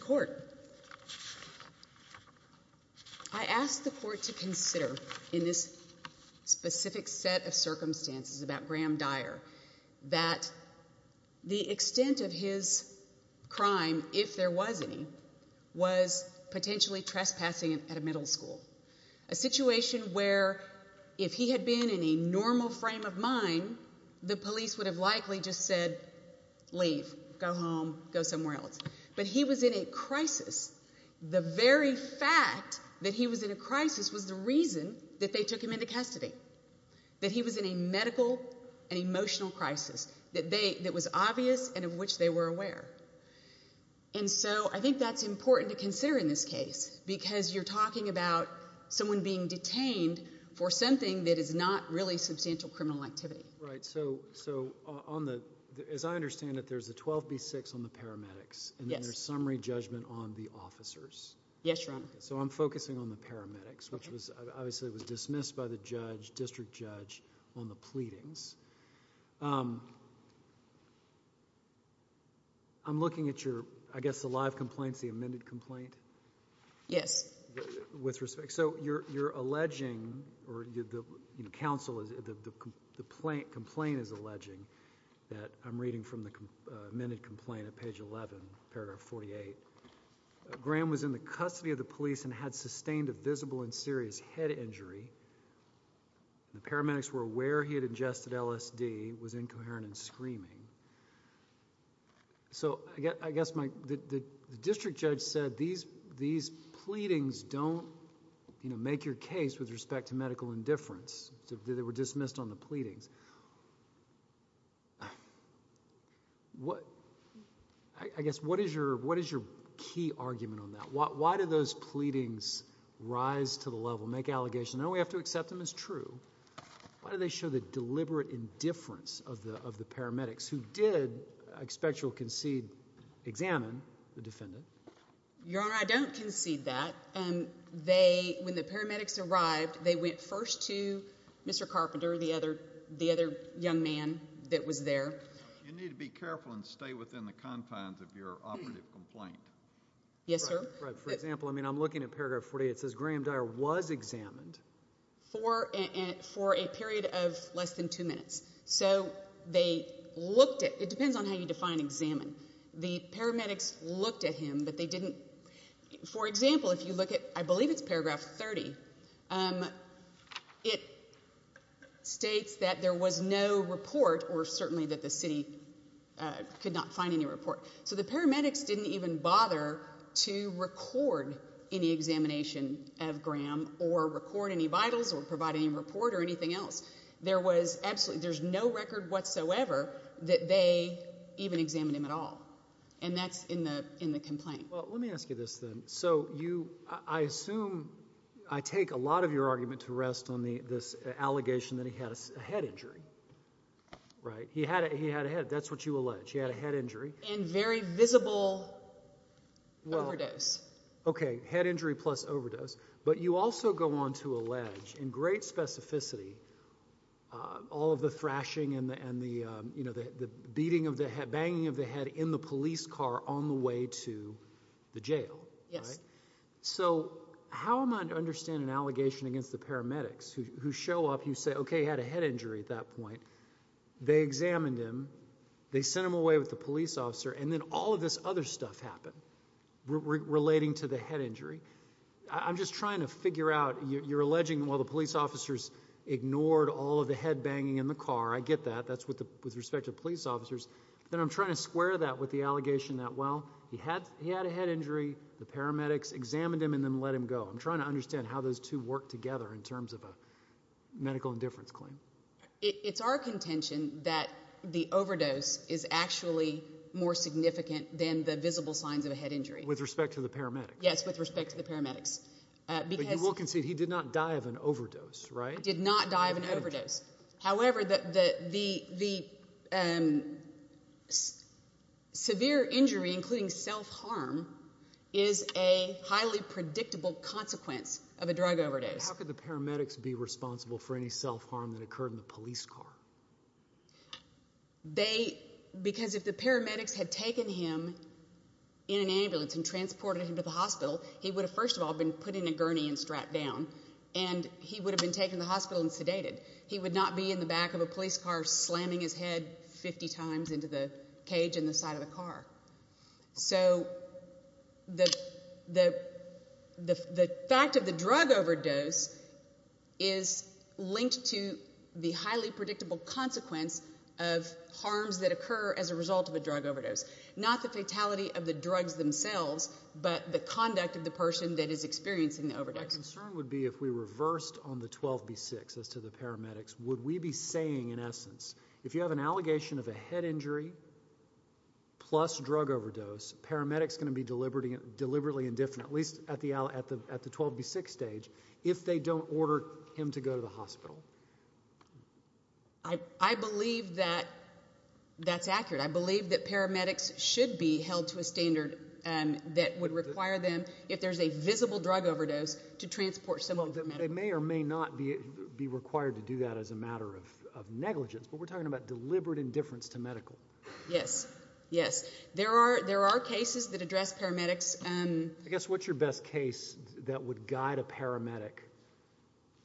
Court. I asked the court to consider in this specific set of circumstances about Graham Dyer that the extent of his crime, if there was any, was potentially trespassing at a middle school. A situation where if he had been in a normal frame of mind, the police would have likely just said, leave, go home, go somewhere else. But he was in a crisis. The very fact that he was in a crisis was the reason that they took him into custody, that he was in a medical and emotional crisis that was obvious and of which they were aware. And so I think that's important to consider in this case because you're talking about someone being detained for something that is not really substantial criminal activity. Right, so as I understand it, there's a 12B6 on the paramedics and there's summary judgment on the officers. Yes, Your Honor. Okay, so I'm focusing on the paramedics, which obviously was dismissed by the judge, district judge, on the pleadings. I'm looking at your, I guess, the live complaints, the amended complaint. Yes. With respect, so you're alleging, or the counsel, the complaint is alleging that, I'm reading from the amended complaint at page 11, paragraph 48, Graham was in the custody of the police and had sustained a visible and serious head injury. The paramedics were aware he had ingested LSD, was incoherent and screaming. So I guess the district judge said, these pleadings don't make your case with respect to medical indifference. They were dismissed on the pleadings. I guess, what is your key argument on that? Why do those pleadings rise to the level, make allegations, no, we have to accept them as true. Why do they show the deliberate indifference of the paramedics who did, I expect you'll concede, examine the defendant? Your Honor, I don't concede that. They, when the paramedics arrived, they went first to Mr. Carpenter, the other young man that was there. You need to be careful and stay within the confines of your operative complaint. Yes, sir. For example, I mean, I'm looking at paragraph 48. It says Graham Dyer was examined. For a period of less than two minutes. So they looked at, it depends on how you define examine. The paramedics looked at him, but they didn't, for example, if you look at, I believe it's paragraph 30, it states that there was no report or certainly that the city could not find any report. So the paramedics didn't even bother to record any examination of Graham or record any vitals or provide any report or anything else. There was absolutely, there's no record whatsoever that they even examined him at all. And that's in the complaint. Well, let me ask you this then. So you, I assume, I take a lot of your argument to rest on the, this allegation that he had a head injury, right? He had a, he had a head. That's what you allege. He had a head injury. And very visible overdose. Yes. Okay. Head injury plus overdose. But you also go on to allege in great specificity, uh, all of the thrashing and the, and the, um, you know, the, the beating of the head, banging of the head in the police car on the way to the jail. So how am I to understand an allegation against the paramedics who, who show up, you say, okay, he had a head injury at that point. They examined him, they sent him away with the police officer. And then all of this other stuff happened relating to the head injury. I'm just trying to figure out, you're alleging while the police officers ignored all of the head banging in the car. I get that. That's what the, with respect to police officers. Then I'm trying to square that with the allegation that, well, he had, he had a head injury, the paramedics examined him and then let him go. I'm trying to understand how those two work together in terms of a medical indifference claim. It's our contention that the overdose is actually more significant than the visible signs of a head injury. With respect to the paramedics? Yes, with respect to the paramedics. Uh, because... But you will concede he did not die of an overdose, right? Did not die of an overdose. However, the, the, the, the, um, severe injury, including self-harm, is a highly predictable consequence of a drug overdose. But how could the paramedics be responsible for any self-harm that occurred in the police car? They, because if the paramedics had taken him in an ambulance and transported him to the hospital, he would have, first of all, been put in a gurney and strapped down. And he would have been taken to the hospital and sedated. He would not be in the back of a police car slamming his head 50 times into the cage in the side of the car. So the, the, the fact of the drug overdose is linked to the highly predictable consequence of harms that occur as a result of a drug overdose. Not the fatality of the drugs themselves, but the conduct of the person that is experiencing the overdose. My concern would be if we reversed on the 12B6 as to the paramedics, would we be saying, in essence, if you have an allegation of a head injury plus drug overdose, paramedics going to be deliberately, deliberately indifferent, at least at the, at the 12B6 stage, if they don't order him to go to the hospital? I believe that that's accurate. I believe that paramedics should be held to a standard that would require them, if there's a visible drug overdose, to transport someone to the medical. They may or may not be required to do that as a matter of negligence, but we're talking about deliberate indifference to medical. Yes, yes. There are, there are cases that address paramedics. I guess, what's your best case that would guide a paramedic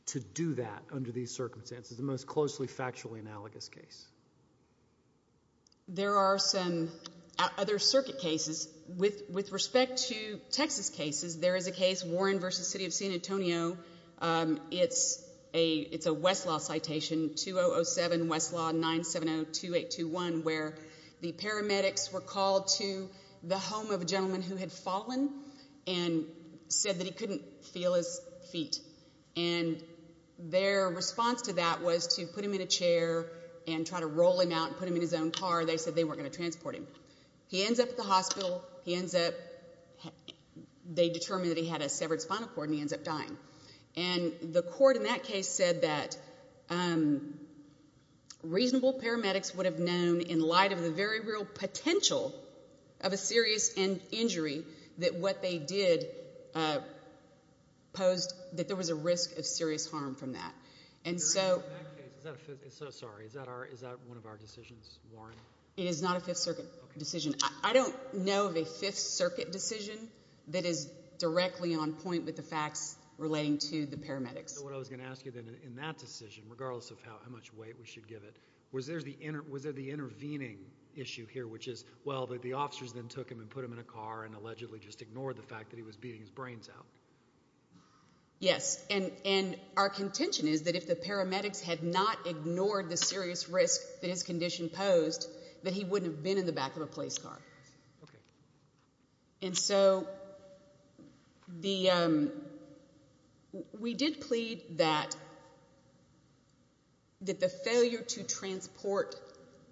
to do that under these circumstances, the most closely factually analogous case? There are some other circuit cases. With, with respect to Texas cases, there is a case, Warren v. City of San Antonio. It's a, it's a Westlaw citation, 2007 Westlaw 9702821, where the paramedics were called to the home of a gentleman who had fallen and said that he couldn't feel his feet. And their response to that was to put him in a chair and try to roll him out and put him in his own car. They said they weren't going to transport him. He ends up at the hospital. He ends up, they determined that he had a severed spinal cord and he ends up dying. And the court in that case said that reasonable paramedics would have known, in light of the very real potential of a serious injury, that what they did posed, that there was a risk of serious harm from that. And so... In that case, is that a, so sorry, is that our, is that one of our decisions, Warren? It is not a Fifth Circuit decision. I don't know of a Fifth Circuit decision that is directly on point with the facts relating to the paramedics. So what I was going to ask you then, in that decision, regardless of how much weight we should give it, was there the intervening issue here, which is, well, the officers then took him and put him in a car and allegedly just ignored the fact that he was beating his brains out. Yes, and our contention is that if the paramedics had not ignored the serious risk that his condition posed, that he wouldn't have been in the back of a police car. And so, the, we did plead that the failure to transport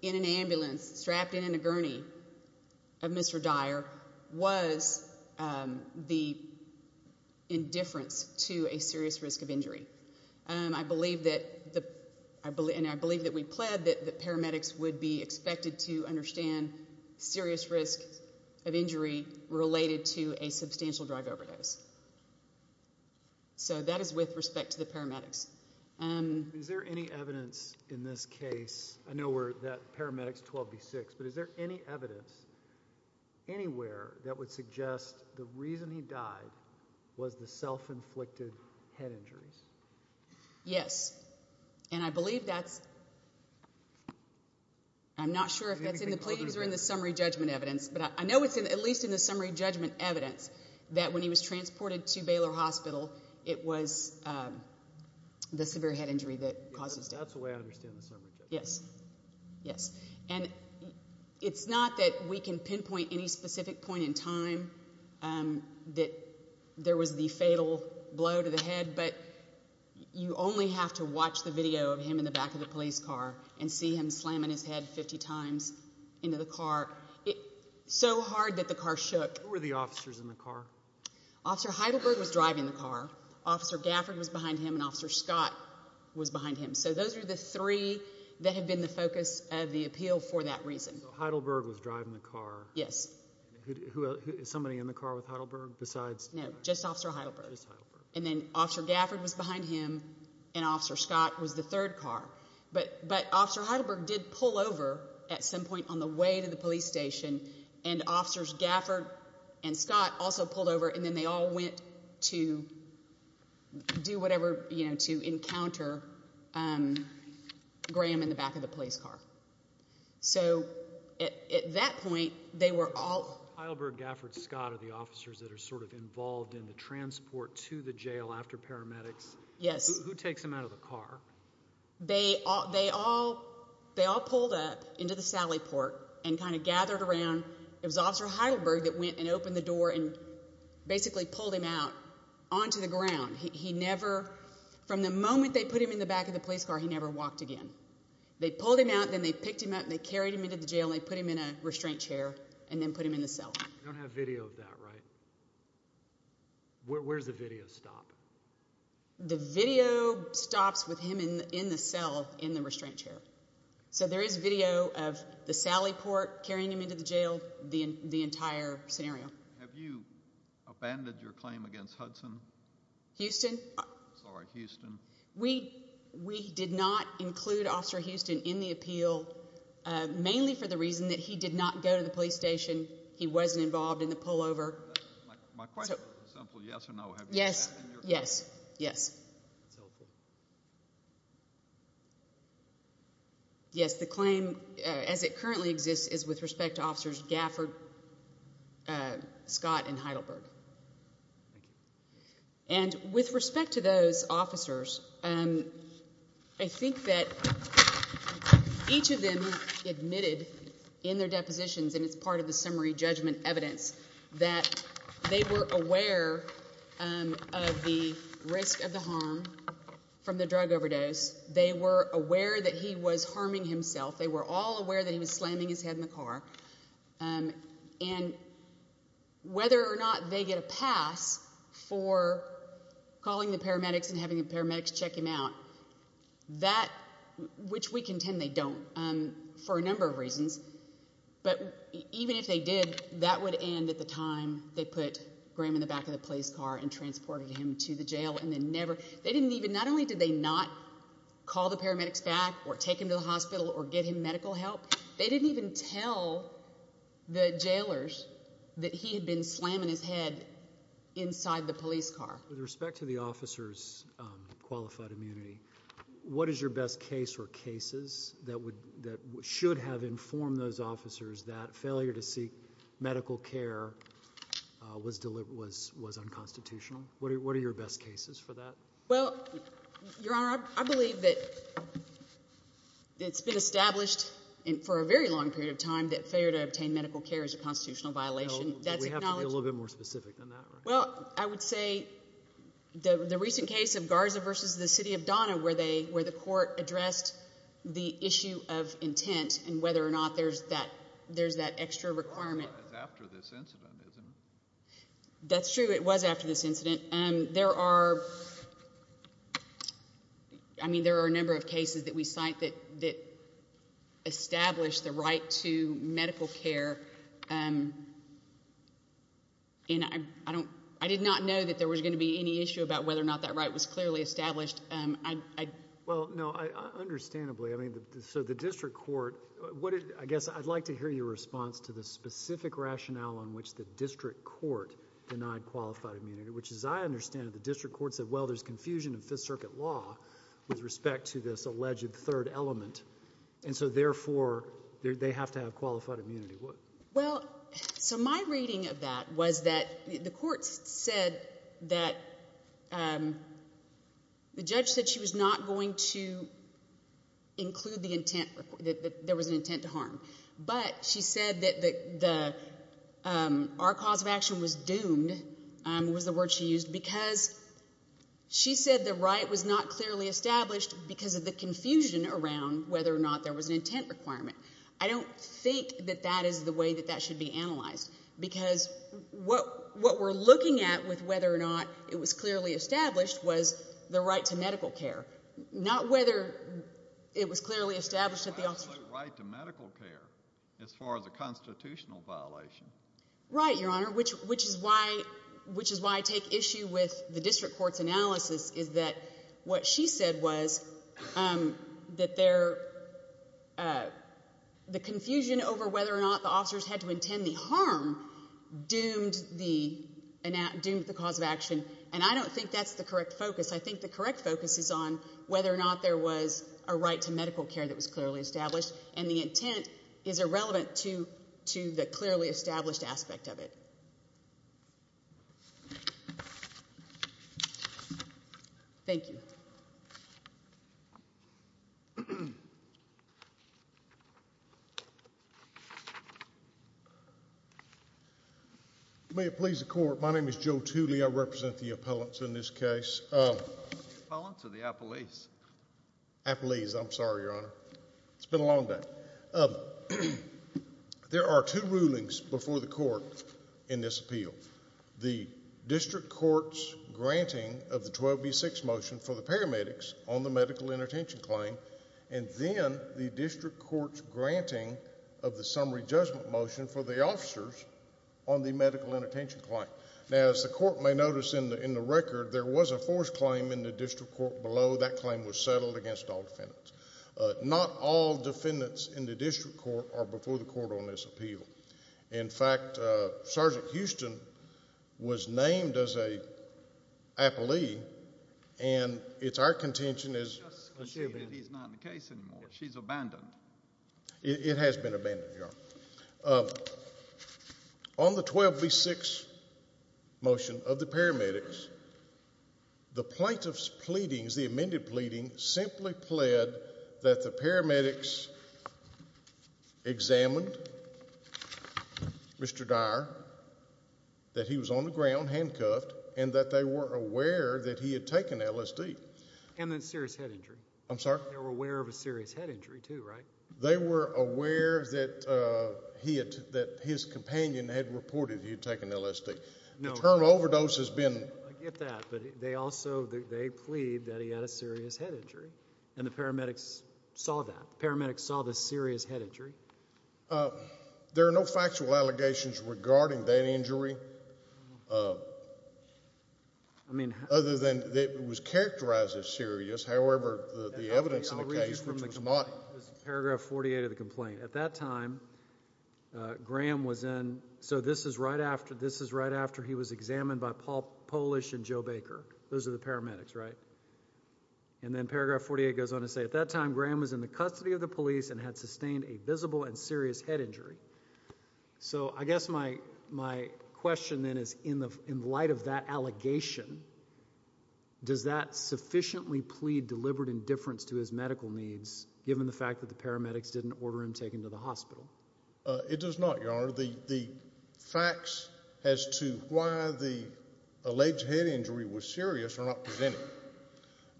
in an ambulance strapped in a gurney of Mr. Dyer was the indifference to a serious risk of injury. I believe that the, and I believe that we pled that the paramedics would be expected to understand serious risk of injury related to a substantial drive overdose. So that is with respect to the paramedics. Is there any evidence in this case, I know that paramedics 12B6, but is there any evidence anywhere that would suggest the reason he died was the self-inflicted head injuries? Yes, and I believe that's, I'm not sure if that's in the pleadings or in the summary judgment evidence, but I know it's at least in the summary judgment evidence that when he was transported to Baylor Hospital, it was the severe head injury that caused his death. That's the way I understand the summary judgment. Yes, yes. And it's not that we can pinpoint any specific point in time that there was the fatal blow to the head, but you only have to watch the video of him in the back of the car. So hard that the car shook. Who were the officers in the car? Officer Heidelberg was driving the car. Officer Gafford was behind him and Officer Scott was behind him. So those are the three that have been the focus of the appeal for that reason. So Heidelberg was driving the car. Yes. Is somebody in the car with Heidelberg besides? No, just Officer Heidelberg. Just Heidelberg. And then Officer Gafford was behind him and Officer Scott was the third car. But Officer Heidelberg did pull over at some point on the way to the police station and Officers Gafford and Scott also pulled over and then they all went to do whatever, you know, to encounter Graham in the back of the police car. So at that point, they were all... Heidelberg, Gafford, Scott are the officers that are sort of involved in the transport to the jail after paramedics. Yes. Who takes them out of the car? They all pulled up into the sally port and kind of gathered around. It was Officer Heidelberg that went and opened the door and basically pulled him out onto the ground. He never... From the moment they put him in the back of the police car, he never walked again. They pulled him out, then they picked him up and they carried him into the jail and they put him in a restraint chair and then put him in the cell. You don't have video of that, right? Where does the video stop? The video stops with him in the cell in the restraint chair. So there is video of the sally port carrying him into the jail, the entire scenario. Have you abandoned your claim against Hudson? Houston? Sorry, Houston. We did not include Officer Houston in the appeal, mainly for the reason that he did not go to the police station. He wasn't involved in the pullover. My question is simple. Yes or no? Yes. Yes. Yes. Yes, the claim as it currently exists is with respect to Officers Gafford, Scott and Heidelberg. Thank you. And with respect to those officers, I think that each of them admitted in their depositions and it's part of the summary judgment evidence that they were aware of the risk of the harm from the drug overdose. They were aware that he was harming himself. They were all aware that he was slamming his head in the car. And whether or not they get a pass for calling the paramedics and having the paramedics check him out, that, which we contend they don't for a number of reasons. But even if they did, that would end at the time they put Graham in the back of the police car and transported him to the jail. And they never, they didn't even, not only did they not call the paramedics back or take him to the hospital or get him medical help, they didn't even tell the jailers that he had been slamming his head inside the police car. With respect to the officers' qualified immunity, what is your best case or cases that should have informed those officers that failure to seek medical care was unconstitutional? What are your best cases for that? Well, Your Honor, I believe that it's been established for a very long period of time that failure to obtain medical care is a constitutional violation. We have to be a little bit more specific than that, right? Well, I would say the recent case of Garza versus the City of Donna where they, where the court addressed the issue of intent and whether or not there's that, there's that extra requirement. Garza is after this incident, isn't it? That's true, it was after this incident. There are, I mean, there are a number of cases that we cite that establish the right to medical care. I did not know that there was going to be any issue about whether or not that right was clearly established. Well, no, understandably, I mean, so the district court... I guess I'd like to hear your response to the specific rationale on which the district court denied qualified immunity, which as I understand it, the district court said, well, there's confusion in Fifth Circuit law with respect to this alleged third element. And so therefore, they have to have qualified immunity. Well, so my reading of that was that the court said that, the judge said she was not going to include the intent, that there was an intent to harm. But she said that the, our cause of action was doomed, was the word she used, because she said the right was not clearly established because of the confusion around whether or not there was an intent requirement. I don't think that that is the way that that should be analyzed, because what, what we're looking at with whether or not it was clearly established was the right to medical care, not whether it was clearly established that the... There was no absolute right to medical care as far as a constitutional violation. Right, Your Honor, which, which is why, which is why I take issue with the district court's analysis is that what she said was that there, the confusion over whether or not the officers had to intend the harm doomed the, doomed the cause of action. And I don't think that's the correct focus. I think the correct focus is on whether or not there was a right to medical care that was clearly established. And the intent is irrelevant to, to the clearly established aspect of it. Thank you. May it please the Court. My name is Joe Tooley. I represent the appellants in this case. Appellants or the appellees? Appellees. I'm sorry, Your Honor. It's been a long day. There are two rulings before the Court in this appeal. The district court's granting of the 12B6 motion for the paramedics on the medical intertention claim, and then the district court's granting of the summary judgment motion for the officers on the medical intertention claim. Now, as the Court may notice in the, in the record, there was a forced claim in this case, and the forced claim was settled against all defendants. Not all defendants in the district court are before the Court on this appeal. In fact, Sergeant Houston was named as a appellee, and it's our contention as... He's not in the case anymore. She's abandoned. It has been abandoned, Your Honor. On the 12B6 motion of the paramedics, the plaintiff's plea, the amended pleading, simply pled that the paramedics examined Mr. Dyer, that he was on the ground, handcuffed, and that they were aware that he had taken LSD. And then serious head injury. I'm sorry? They were aware of a serious head injury, too, right? They were aware that he had, that his companion had reported he had taken LSD. No. The term overdose has been... I get that, but they also, they plead that he had a serious head injury, and the paramedics saw that. The paramedics saw the serious head injury. There are no factual allegations regarding that injury, other than it was characterized as serious. However, the evidence in the case... I'll read you from the complaint. It's paragraph 48 of the complaint. At that time, Graham was in, so this is right after, this is right after he was examined by Paul Polish and Joe Baker. Those are the paramedics, right? And then paragraph 48 goes on to say, at that time, Graham was in the custody of the police and had sustained a visible and serious head injury. So I guess my question then is, in light of that allegation, does that sufficiently plead deliberate indifference to his medical needs, given the fact that the paramedics didn't order him taken to the hospital? It does not, Your Honor. The facts as to why the alleged head injury was serious are not presented.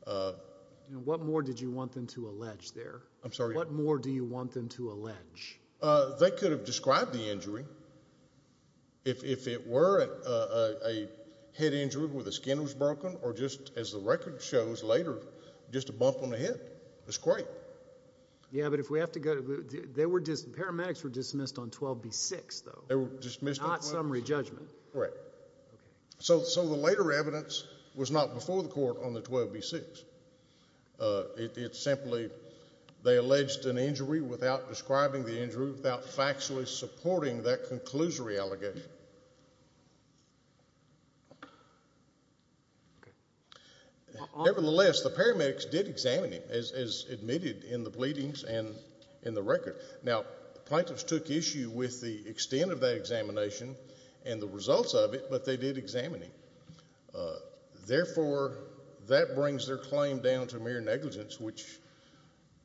And what more did you want them to allege there? I'm sorry? What more do you want them to allege? They could have described the injury, if it were a head injury where the skin was broken, or just, as the record shows later, just a bump on the head. It's great. Yeah, but if we have to go, paramedics were dismissed on 12b-6, though. They were dismissed on 12b-6? Not summary judgment. Right. So the later evidence was not before the court on the 12b-6. It's simply, they alleged an injury without describing the injury, without factually supporting that in the pleadings and in the record. Now, the plaintiffs took issue with the extent of that examination and the results of it, but they did examine him. Therefore, that brings their claim down to mere negligence, which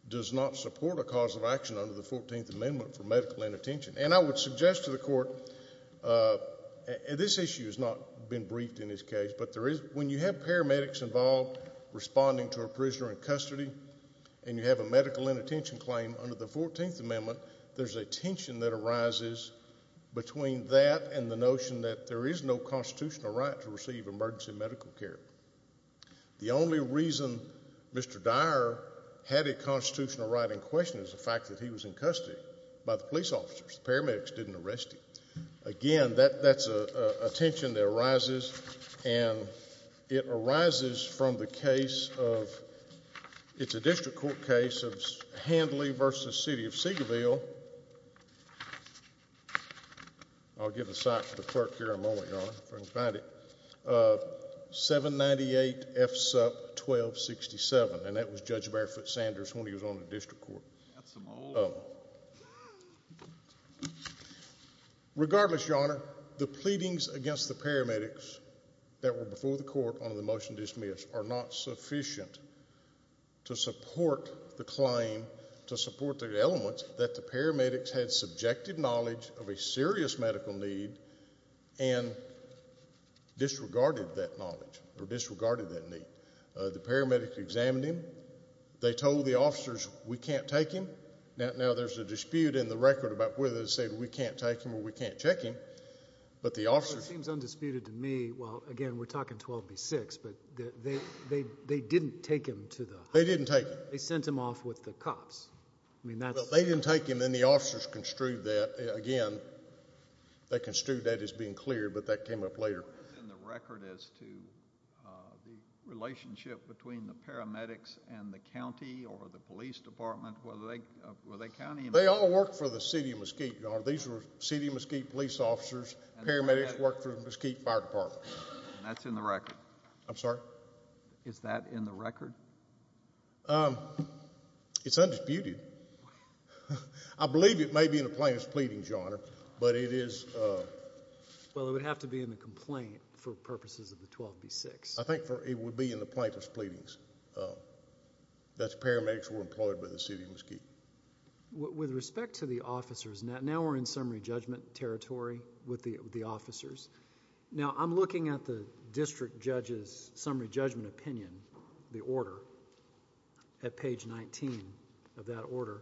does not support a cause of action under the 14th Amendment for medical inattention. And I would suggest to the court, this issue has not been briefed in this case, but when you have paramedics involved responding to a prisoner in custody and you have a medical inattention claim under the 14th Amendment, there's a tension that arises between that and the notion that there is no constitutional right to receive emergency medical care. The only reason Mr. Dyer had a constitutional right in question is the fact that he was in custody by the police officers. The paramedics didn't arrest him. Again, that's a tension that arises, and it arises from the case of, it's a district court case of Handley v. City of Seagoville. I'll give the site to the clerk here in a moment, Your Honor, if I can find it. 798 F. Supp. 1267, and that was Judge Barefoot Sanders when he was on the district court. Regardless, Your Honor, the pleadings against the paramedics that were before the court under the motion dismissed are not sufficient to support the claim, to support the elements that the paramedics had subjected knowledge of a serious medical need and disregarded that knowledge or disregarded that need. The paramedics examined him. They told the officers, we can't take him. Now, there's a dispute in the record about whether to say we can't take him or we can't check him, but the officers... It seems undisputed to me, well, again, we're talking 12B6, but they didn't take him to the hospital. They didn't take him. They sent him off with the cops. I mean, that's... Well, they didn't take him, and the officers construed that, again, they construed that as being clear, but that came up later. What is in the record as to the relationship between the paramedics and the county or the police department? Were they county employees? They all worked for the city of Mesquite, Your Honor. These were city of Mesquite police officers. Paramedics worked for the Mesquite Fire Department. And that's in the record? I'm sorry? Is that in the record? It's undisputed. I believe it may be in the plaintiff's pleadings, Your Honor, but it is... Well, it would have to be in the complaint for purposes of the 12B6. I think it would be in the plaintiff's pleadings. That's paramedics who were employed by the city of Mesquite. With respect to the officers, now we're in summary judgment territory with the officers. Now, I'm looking at the district judge's summary judgment opinion, the order, at page 19 of that order,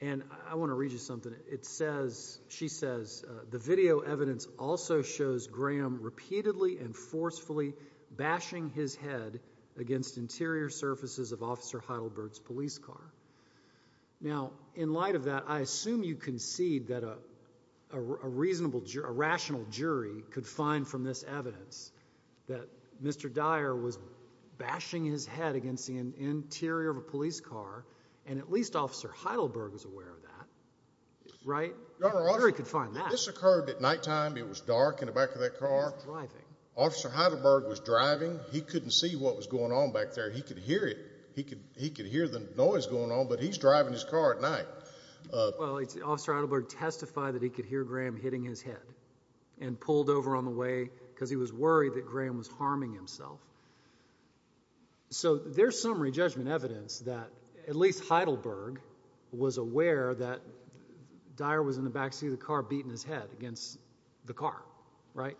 and I want to read you something. It says, she says, the video evidence also shows Graham repeatedly and forcefully bashing his head against interior surfaces of Officer Heidelberg's police car. Now, in light of that, I assume you concede that a reasonable, a rational jury could find from this evidence that Mr. Dyer was bashing his head against the interior of a police car, and at least Officer Heidelberg was aware of that, right? A jury could find that. Your Honor, this occurred at nighttime. It was dark in the back of that car. He was driving. Officer Heidelberg was driving. He couldn't see what was going on back there. He could hear it. He could hear the noise going on, but he's driving his car at night. Well, Officer Heidelberg testified that he could hear Graham hitting his head and pulled over on the way because he was worried that Graham was harming himself. So there's some re-judgment evidence that at least Heidelberg was aware that Dyer was in the back seat of the car beating his head against the car, right?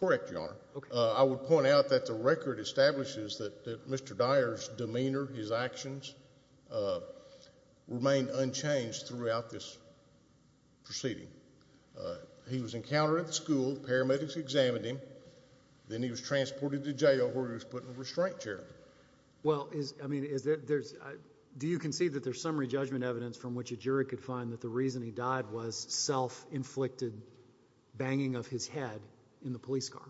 Correct, Your Honor. Okay. I would point out that the record establishes that Mr. Dyer's demeanor, his actions, remained unchanged throughout this proceeding. He was encountered at the school. Paramedics examined him. Then he was transported to jail where he was put in a restraint chair. Well, do you concede that there's some re-judgment evidence from which a jury could find that the reason he died was self-inflicted banging of his head in the police car?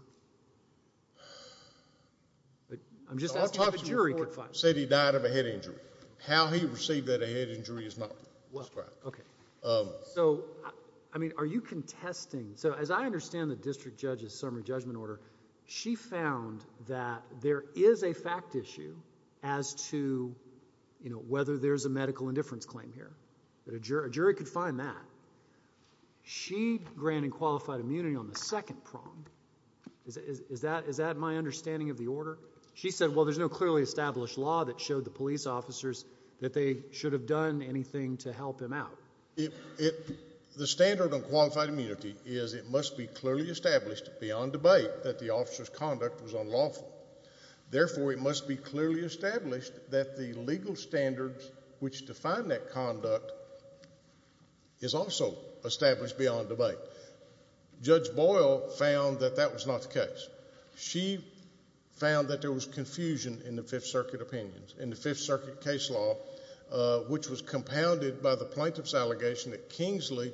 I'm just asking if a jury could find that. The autopsy report said he died of a head injury. How he received that head injury is not described. Okay. So, I mean, are you contesting... So as I understand the district judge's summary judgment order, she found that there is a fact issue as to, you know, whether there's a medical indifference claim here, that a jury could find that. She granted qualified immunity on the second prong. Is that my understanding of the order? She said, well, there's no clearly established law that showed the police officers that they should have done anything to help him out. The standard on qualified immunity is it must be clearly established beyond debate that the officer's conduct was unlawful. Therefore, it must be clearly established that the legal standards which define that conduct is also established beyond debate. Judge Boyle found that that was not the case. She found that there was confusion in the Fifth Circuit opinions, in the Fifth Circuit case law, which was compounded by the plaintiff's allegation that Kingsley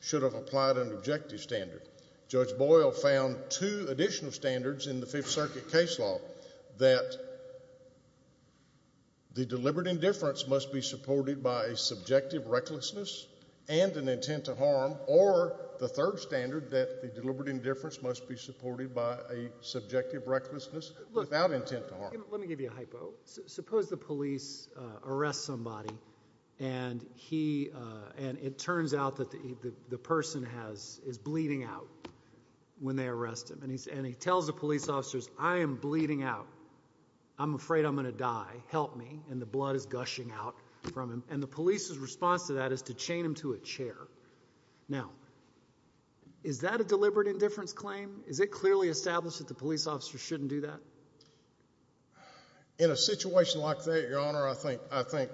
should have applied an objective standard. Judge Boyle found two additional standards in the Fifth Circuit case law, that the deliberate indifference must be supported by a subjective recklessness and an intent to harm, or the third standard, that the deliberate indifference must be supported by a subjective recklessness without intent to harm. Let me give you a hypo. Suppose the police arrest somebody, and it turns out that the person is bleeding out when they arrest him. And he tells the police officers, I am bleeding out. I'm afraid I'm going to die. Help me. And the blood is gushing out from him. And the police's response to that is to chain him to a chair. Now, is that a deliberate indifference claim? Is it clearly established that the police officer shouldn't do that? In a situation like that, Your Honor, I think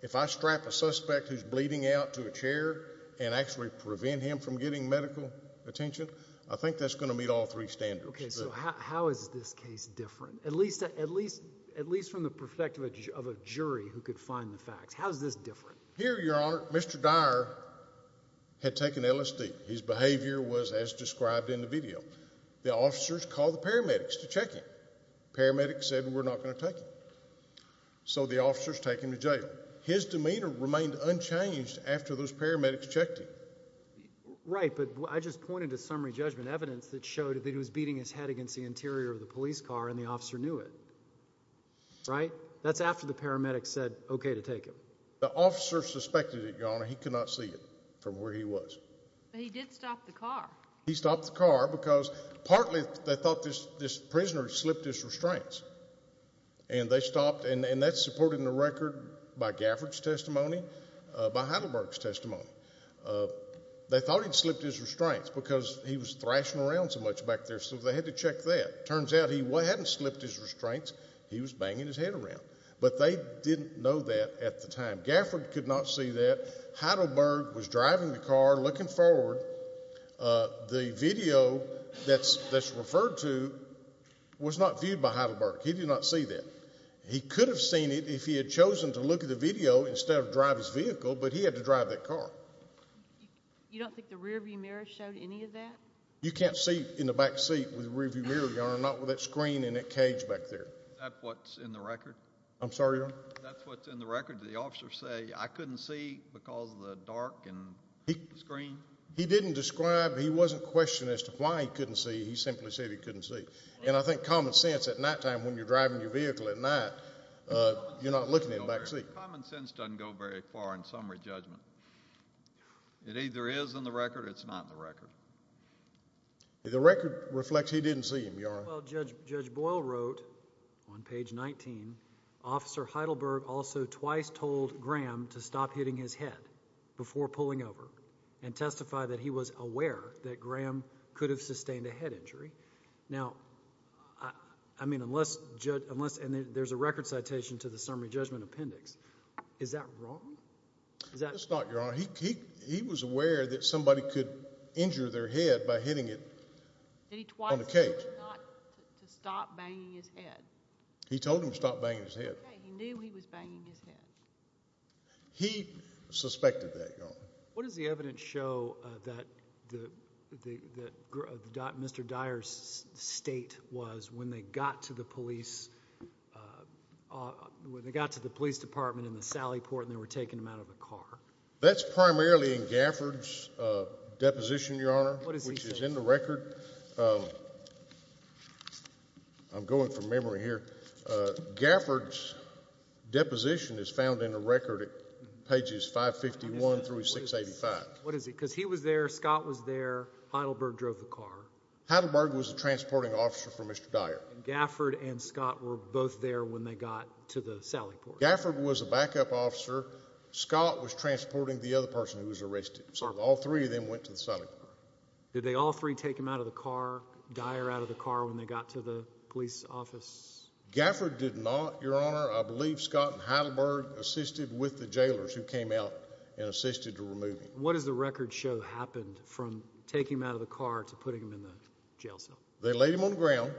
if I strap a suspect who's bleeding out to a chair and actually prevent him from getting medical attention, I think that's going to meet all three standards. Okay, so how is this case different, at least from the perspective of a jury who could find the facts? How is this different? Here, Your Honor, Mr. Dyer had taken LSD. His behavior was as described in the video. The officers called the paramedics to check him. The paramedics said, we're not going to take him. So the officers take him to jail. His demeanor remained unchanged after those paramedics checked him. Right, but I just pointed to summary judgment evidence that showed that he was beating his head against the interior of the police car, and the officer knew it. Right? That's after the paramedics said, okay, to take him. The officer suspected it, Your Honor. He could not see it from where he was. But he did stop the car. He stopped the car because partly they thought this prisoner had slipped his restraints. And they stopped, and that's supported in the record by Gafford's testimony, by Heidelberg's testimony. They thought he'd slipped his restraints because he was thrashing around so much back there, so they had to check that. Turns out he hadn't slipped his restraints. He was banging his head around. But they didn't know that at the time. Gafford could not see that. Heidelberg was driving the car, looking forward. The video that's referred to was not viewed by Heidelberg. He did not see that. He could have seen it if he had chosen to look at the video instead of drive his vehicle, but he had to drive that car. You don't think the rearview mirror showed any of that? You can't see in the backseat with the rearview mirror, Your Honor, not with that screen in that cage back there. Is that what's in the record? I'm sorry, Your Honor? That's what's in the record. Did the officer say, I couldn't see because of the dark in the screen? He didn't describe. He wasn't questioning as to why he couldn't see. He simply said he couldn't see. And I think common sense at nighttime when you're driving your vehicle at night, you're not looking in the backseat. Common sense doesn't go very far in summary judgment. It either is in the record or it's not in the record. The record reflects he didn't see him, Your Honor. Well, Judge Boyle wrote on page 19, Officer Heidelberg also twice told Graham to stop hitting his head before pulling over and testify that he was aware that Graham could have sustained a head injury. Now, I mean, there's a record citation to the summary judgment appendix. Is that wrong? It's not, Your Honor. He was aware that somebody could injure their head by hitting it on the cage. He told him not to stop banging his head. He told him to stop banging his head. He knew he was banging his head. He suspected that, Your Honor. What does the evidence show that Mr. Dyer's state was when they got to the police, when they got to the police department in the Sally Port and they were taking him out of the car? What does he say? Which is in the record. I'm going from memory here. Gafford's deposition is found in the record at pages 551 through 685. What is it? Because he was there, Scott was there, Heidelberg drove the car. Heidelberg was the transporting officer for Mr. Dyer. And Gafford and Scott were both there when they got to the Sally Port. Gafford was a backup officer. Scott was transporting the other person who was arrested. All three of them went to the Sally Port. Did they all three take him out of the car? Dyer out of the car when they got to the police office? Gafford did not, Your Honor. I believe Scott and Heidelberg assisted with the jailers who came out and assisted to remove him. What does the record show happened from taking him out of the car to putting him in the jail cell? They laid him on the ground.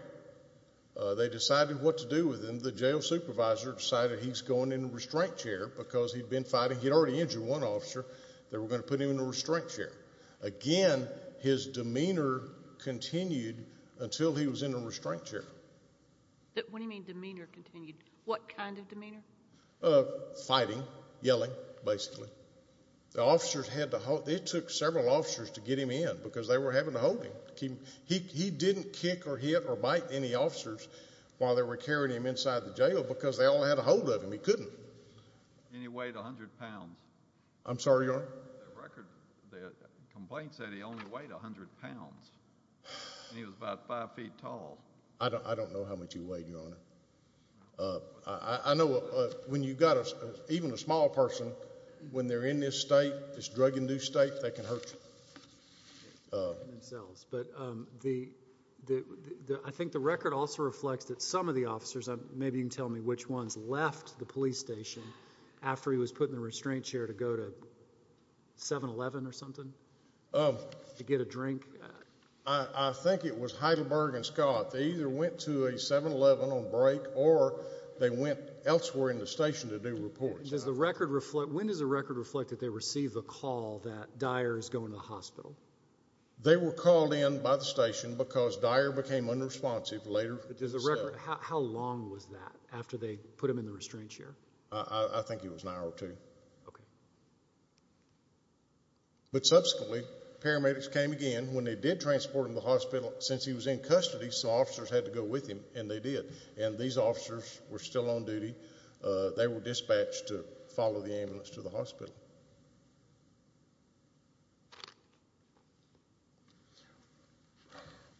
They decided what to do with him. The jail supervisor decided he's going in the restraint chair because he'd been fighting. He'd already injured one officer. They were going to put him in the restraint chair. Again, his demeanor continued until he was in the restraint chair. What do you mean demeanor continued? What kind of demeanor? Fighting, yelling, basically. The officers had to hold him. It took several officers to get him in because they were having to hold him. He didn't kick or hit or bite any officers while they were carrying him inside the jail because they all had a hold of him. He couldn't. And he weighed 100 pounds. I'm sorry, Your Honor? The record, the complaint said he only weighed 100 pounds. And he was about 5 feet tall. I don't know how much he weighed, Your Honor. I know when you've got even a small person, when they're in this state, this drug-induced state, they can hurt you. I think the record also reflects that some of the officers, maybe you can tell me which ones, left the police station after he was put in the restraint chair to go to 7-Eleven or something to get a drink? I think it was Heidelberg and Scott. They either went to a 7-Eleven on break or they went elsewhere in the station to do reports. When does the record reflect that they received a call that Dyer is going to the hospital? They were called in by the station because Dyer became unresponsive later. How long was that after they put him in the restraint chair? I think it was an hour or two. But subsequently, paramedics came again. When they did transport him to the hospital, since he was in custody, some officers had to go with him, and they did. And these officers were still on duty.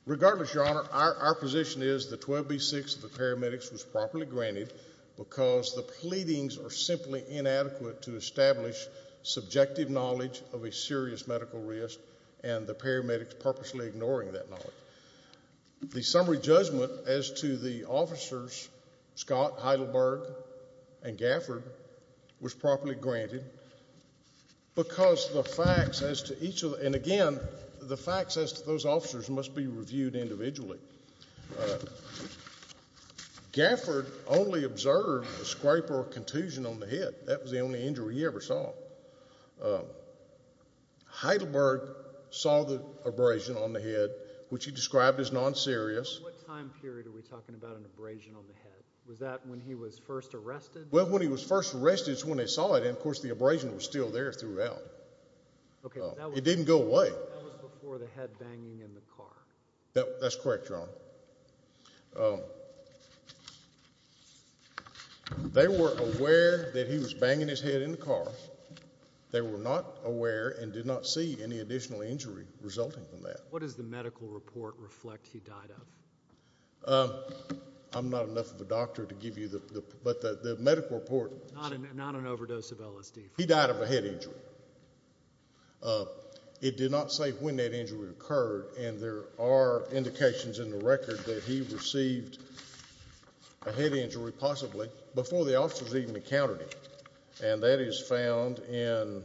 Regardless, Your Honor, our position is the 12B6 of the paramedics was properly granted because the pleadings are simply inadequate to establish subjective knowledge of a serious medical risk and the paramedics purposely ignoring that knowledge. The summary judgment as to the officers, Scott, Heidelberg, and Gafford, was properly granted, because the facts as to each of them, and again, the facts as to those officers must be reviewed individually. Gafford only observed a scrape or a contusion on the head. That was the only injury he ever saw. Heidelberg saw the abrasion on the head, which he described as non-serious. What time period are we talking about an abrasion on the head? Was that when he was first arrested? Well, when he was first arrested is when they saw it, and, of course, the abrasion was still there throughout. It didn't go away. That was before the head banging in the car. That's correct, Your Honor. They were aware that he was banging his head in the car. They were not aware and did not see any additional injury resulting from that. What does the medical report reflect he died of? I'm not enough of a doctor to give you the medical report. Not an overdose of LSD. He died of a head injury. It did not say when that injury occurred, and there are indications in the record that he received a head injury, possibly, before the officers even encountered him, and that is found in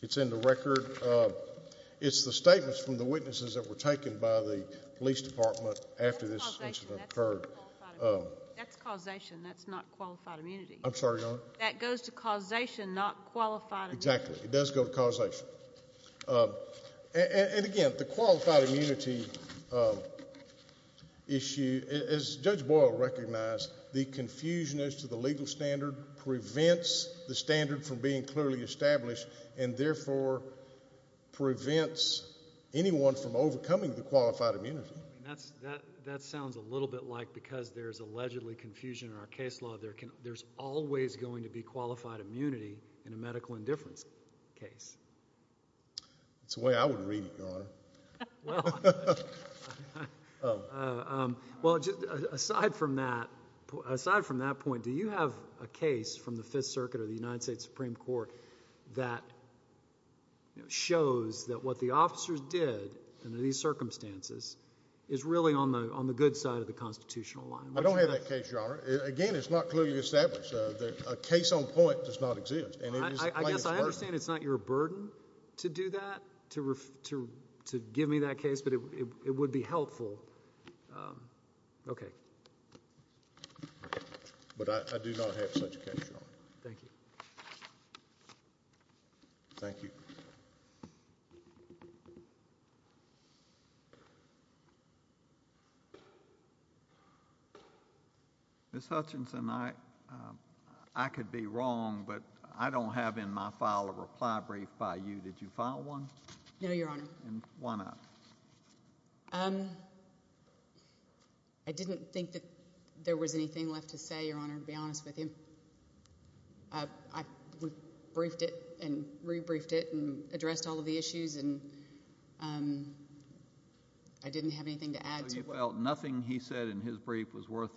the record. It's the statements from the witnesses that were taken by the police department after this incident occurred. That's causation. That's not qualified immunity. I'm sorry, Your Honor? That goes to causation, not qualified immunity. Exactly. It does go to causation. And, again, the qualified immunity issue, as Judge Boyle recognized, the confusion as to the legal standard prevents the standard from being clearly established and, therefore, prevents anyone from overcoming the qualified immunity. That sounds a little bit like because there's allegedly confusion in our case law, there's always going to be qualified immunity in a medical indifference case. That's the way I would read it, Your Honor. Well, aside from that point, do you have a case from the Fifth Circuit or the United States Supreme Court that shows that what the officers did under these circumstances is really on the good side of the constitutional line? I don't have that case, Your Honor. Again, it's not clearly established. A case on point does not exist. I guess I understand it's not your burden to do that, to give me that case, but it would be helpful. Okay. But I do not have such a case, Your Honor. Thank you. Thank you. Ms. Hutchinson, I could be wrong, but I don't have in my file a reply brief by you. Did you file one? No, Your Honor. And why not? I didn't think that there was anything left to say, Your Honor, to be honest with you. I briefed it and rebriefed it and addressed all of the issues, and I didn't have anything to add. So you felt nothing he said in his brief was worth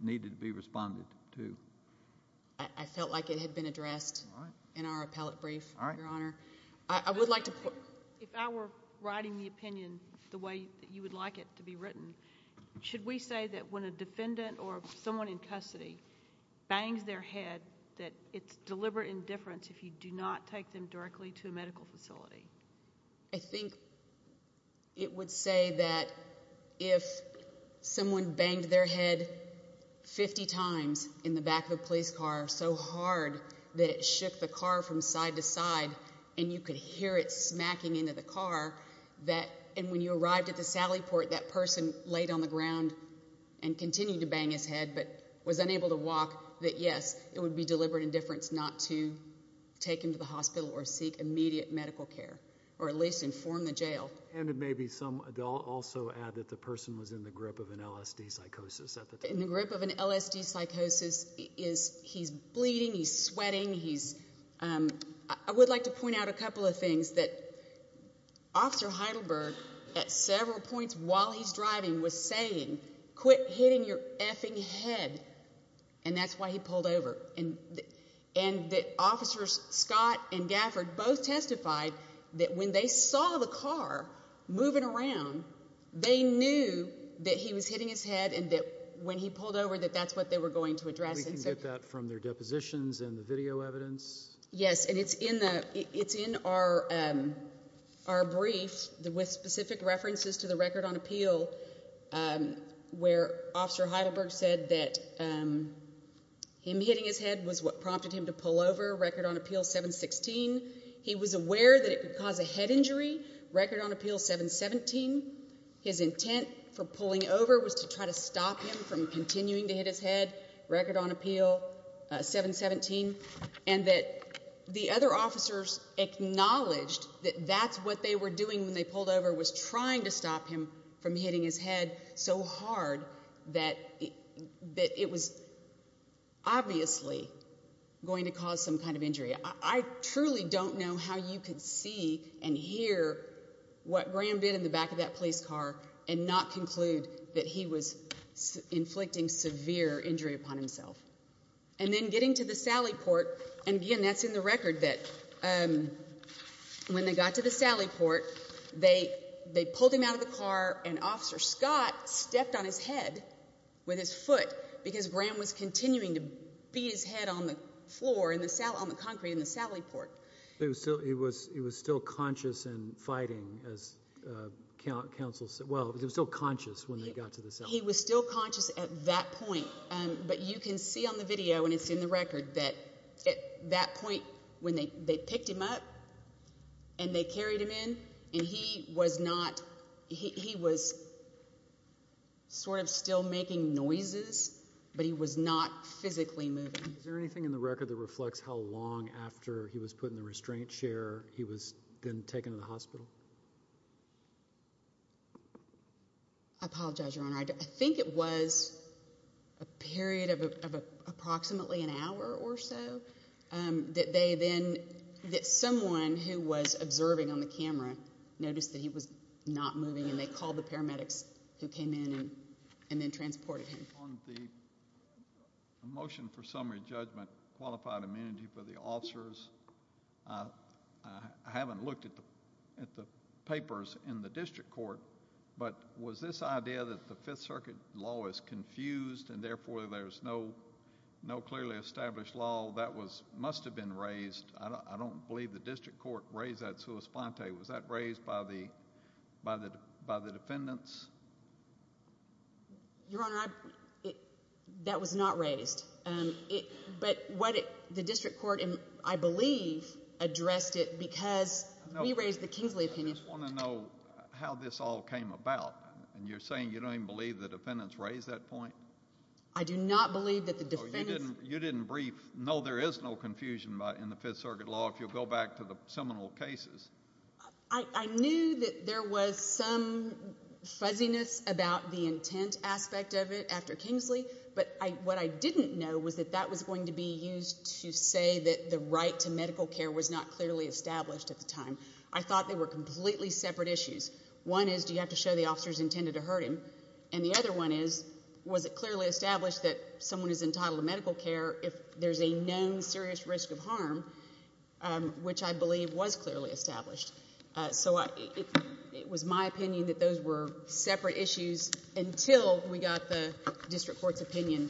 needing to be responded to? I felt like it had been addressed in our appellate brief, Your Honor. All right. If I were writing the opinion the way that you would like it to be written, should we say that when a defendant or someone in custody bangs their head that it's deliberate indifference if you do not take them directly to a medical facility? I think it would say that if someone banged their head 50 times in the back of a police car so hard that it shook the car from side to side and you could hear it smacking into the car, and when you arrived at the sally port, that person laid on the ground and continued to bang his head but was unable to walk, that, yes, it would be deliberate indifference not to take him to the hospital or seek immediate medical care or at least inform the jail. And it may be some adult also add that the person was in the grip of an LSD psychosis at the time. In the grip of an LSD psychosis, he's bleeding, he's sweating. I would like to point out a couple of things that Officer Heidelberg, at several points while he's driving, was saying, quit hitting your effing head, and that's why he pulled over. And that Officers Scott and Gafford both testified that when they saw the car moving around, they knew that he was hitting his head and that when he pulled over that that's what they were going to address. We can get that from their depositions and the video evidence. Yes, and it's in our brief with specific references to the record on appeal where Officer Heidelberg said that him hitting his head was what prompted him to pull over, record on appeal 716. He was aware that it could cause a head injury, record on appeal 717. His intent for pulling over was to try to stop him from continuing to hit his head, record on appeal 717, and that the other officers acknowledged that that's what they were doing when they pulled over was trying to stop him from hitting his head so hard that it was obviously going to cause some kind of injury. I truly don't know how you could see and hear what Graham did in the back of that police car and not conclude that he was inflicting severe injury upon himself. And then getting to the sally port, and again that's in the record that when they got to the sally port, they pulled him out of the car and Officer Scott stepped on his head with his foot because Graham was continuing to beat his head on the floor, on the concrete in the sally port. He was still conscious and fighting as counsel said. Well, he was still conscious when they got to the sally port. He was still conscious at that point, but you can see on the video, and it's in the record, that at that point when they picked him up and they carried him in, and he was sort of still making noises, but he was not physically moving. Is there anything in the record that reflects how long after he was put in the restraint chair I apologize, Your Honor. I think it was a period of approximately an hour or so that they then, that someone who was observing on the camera noticed that he was not moving and they called the paramedics who came in and then transported him. On the motion for summary judgment, qualified amenity for the officers, I haven't looked at the papers in the district court, but was this idea that the Fifth Circuit law is confused and therefore there's no clearly established law, that must have been raised. I don't believe the district court raised that sua sponte. Was that raised by the defendants? Your Honor, that was not raised. But what the district court, I believe, addressed it because we raised the Kingsley opinion. I just want to know how this all came about, and you're saying you don't even believe the defendants raised that point? I do not believe that the defendants... So you didn't brief, no, there is no confusion in the Fifth Circuit law, if you'll go back to the seminal cases. I knew that there was some fuzziness about the intent aspect of it after Kingsley, but what I didn't know was that that was going to be used to say that the right to medical care was not clearly established at the time. I thought they were completely separate issues. One is, do you have to show the officers intended to hurt him? And the other one is, was it clearly established that someone is entitled to medical care if there's a known serious risk of harm, which I believe was clearly established. So it was my opinion that those were separate issues until we got the district court's opinion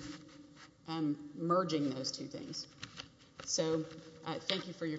merging those two things. So thank you for your time.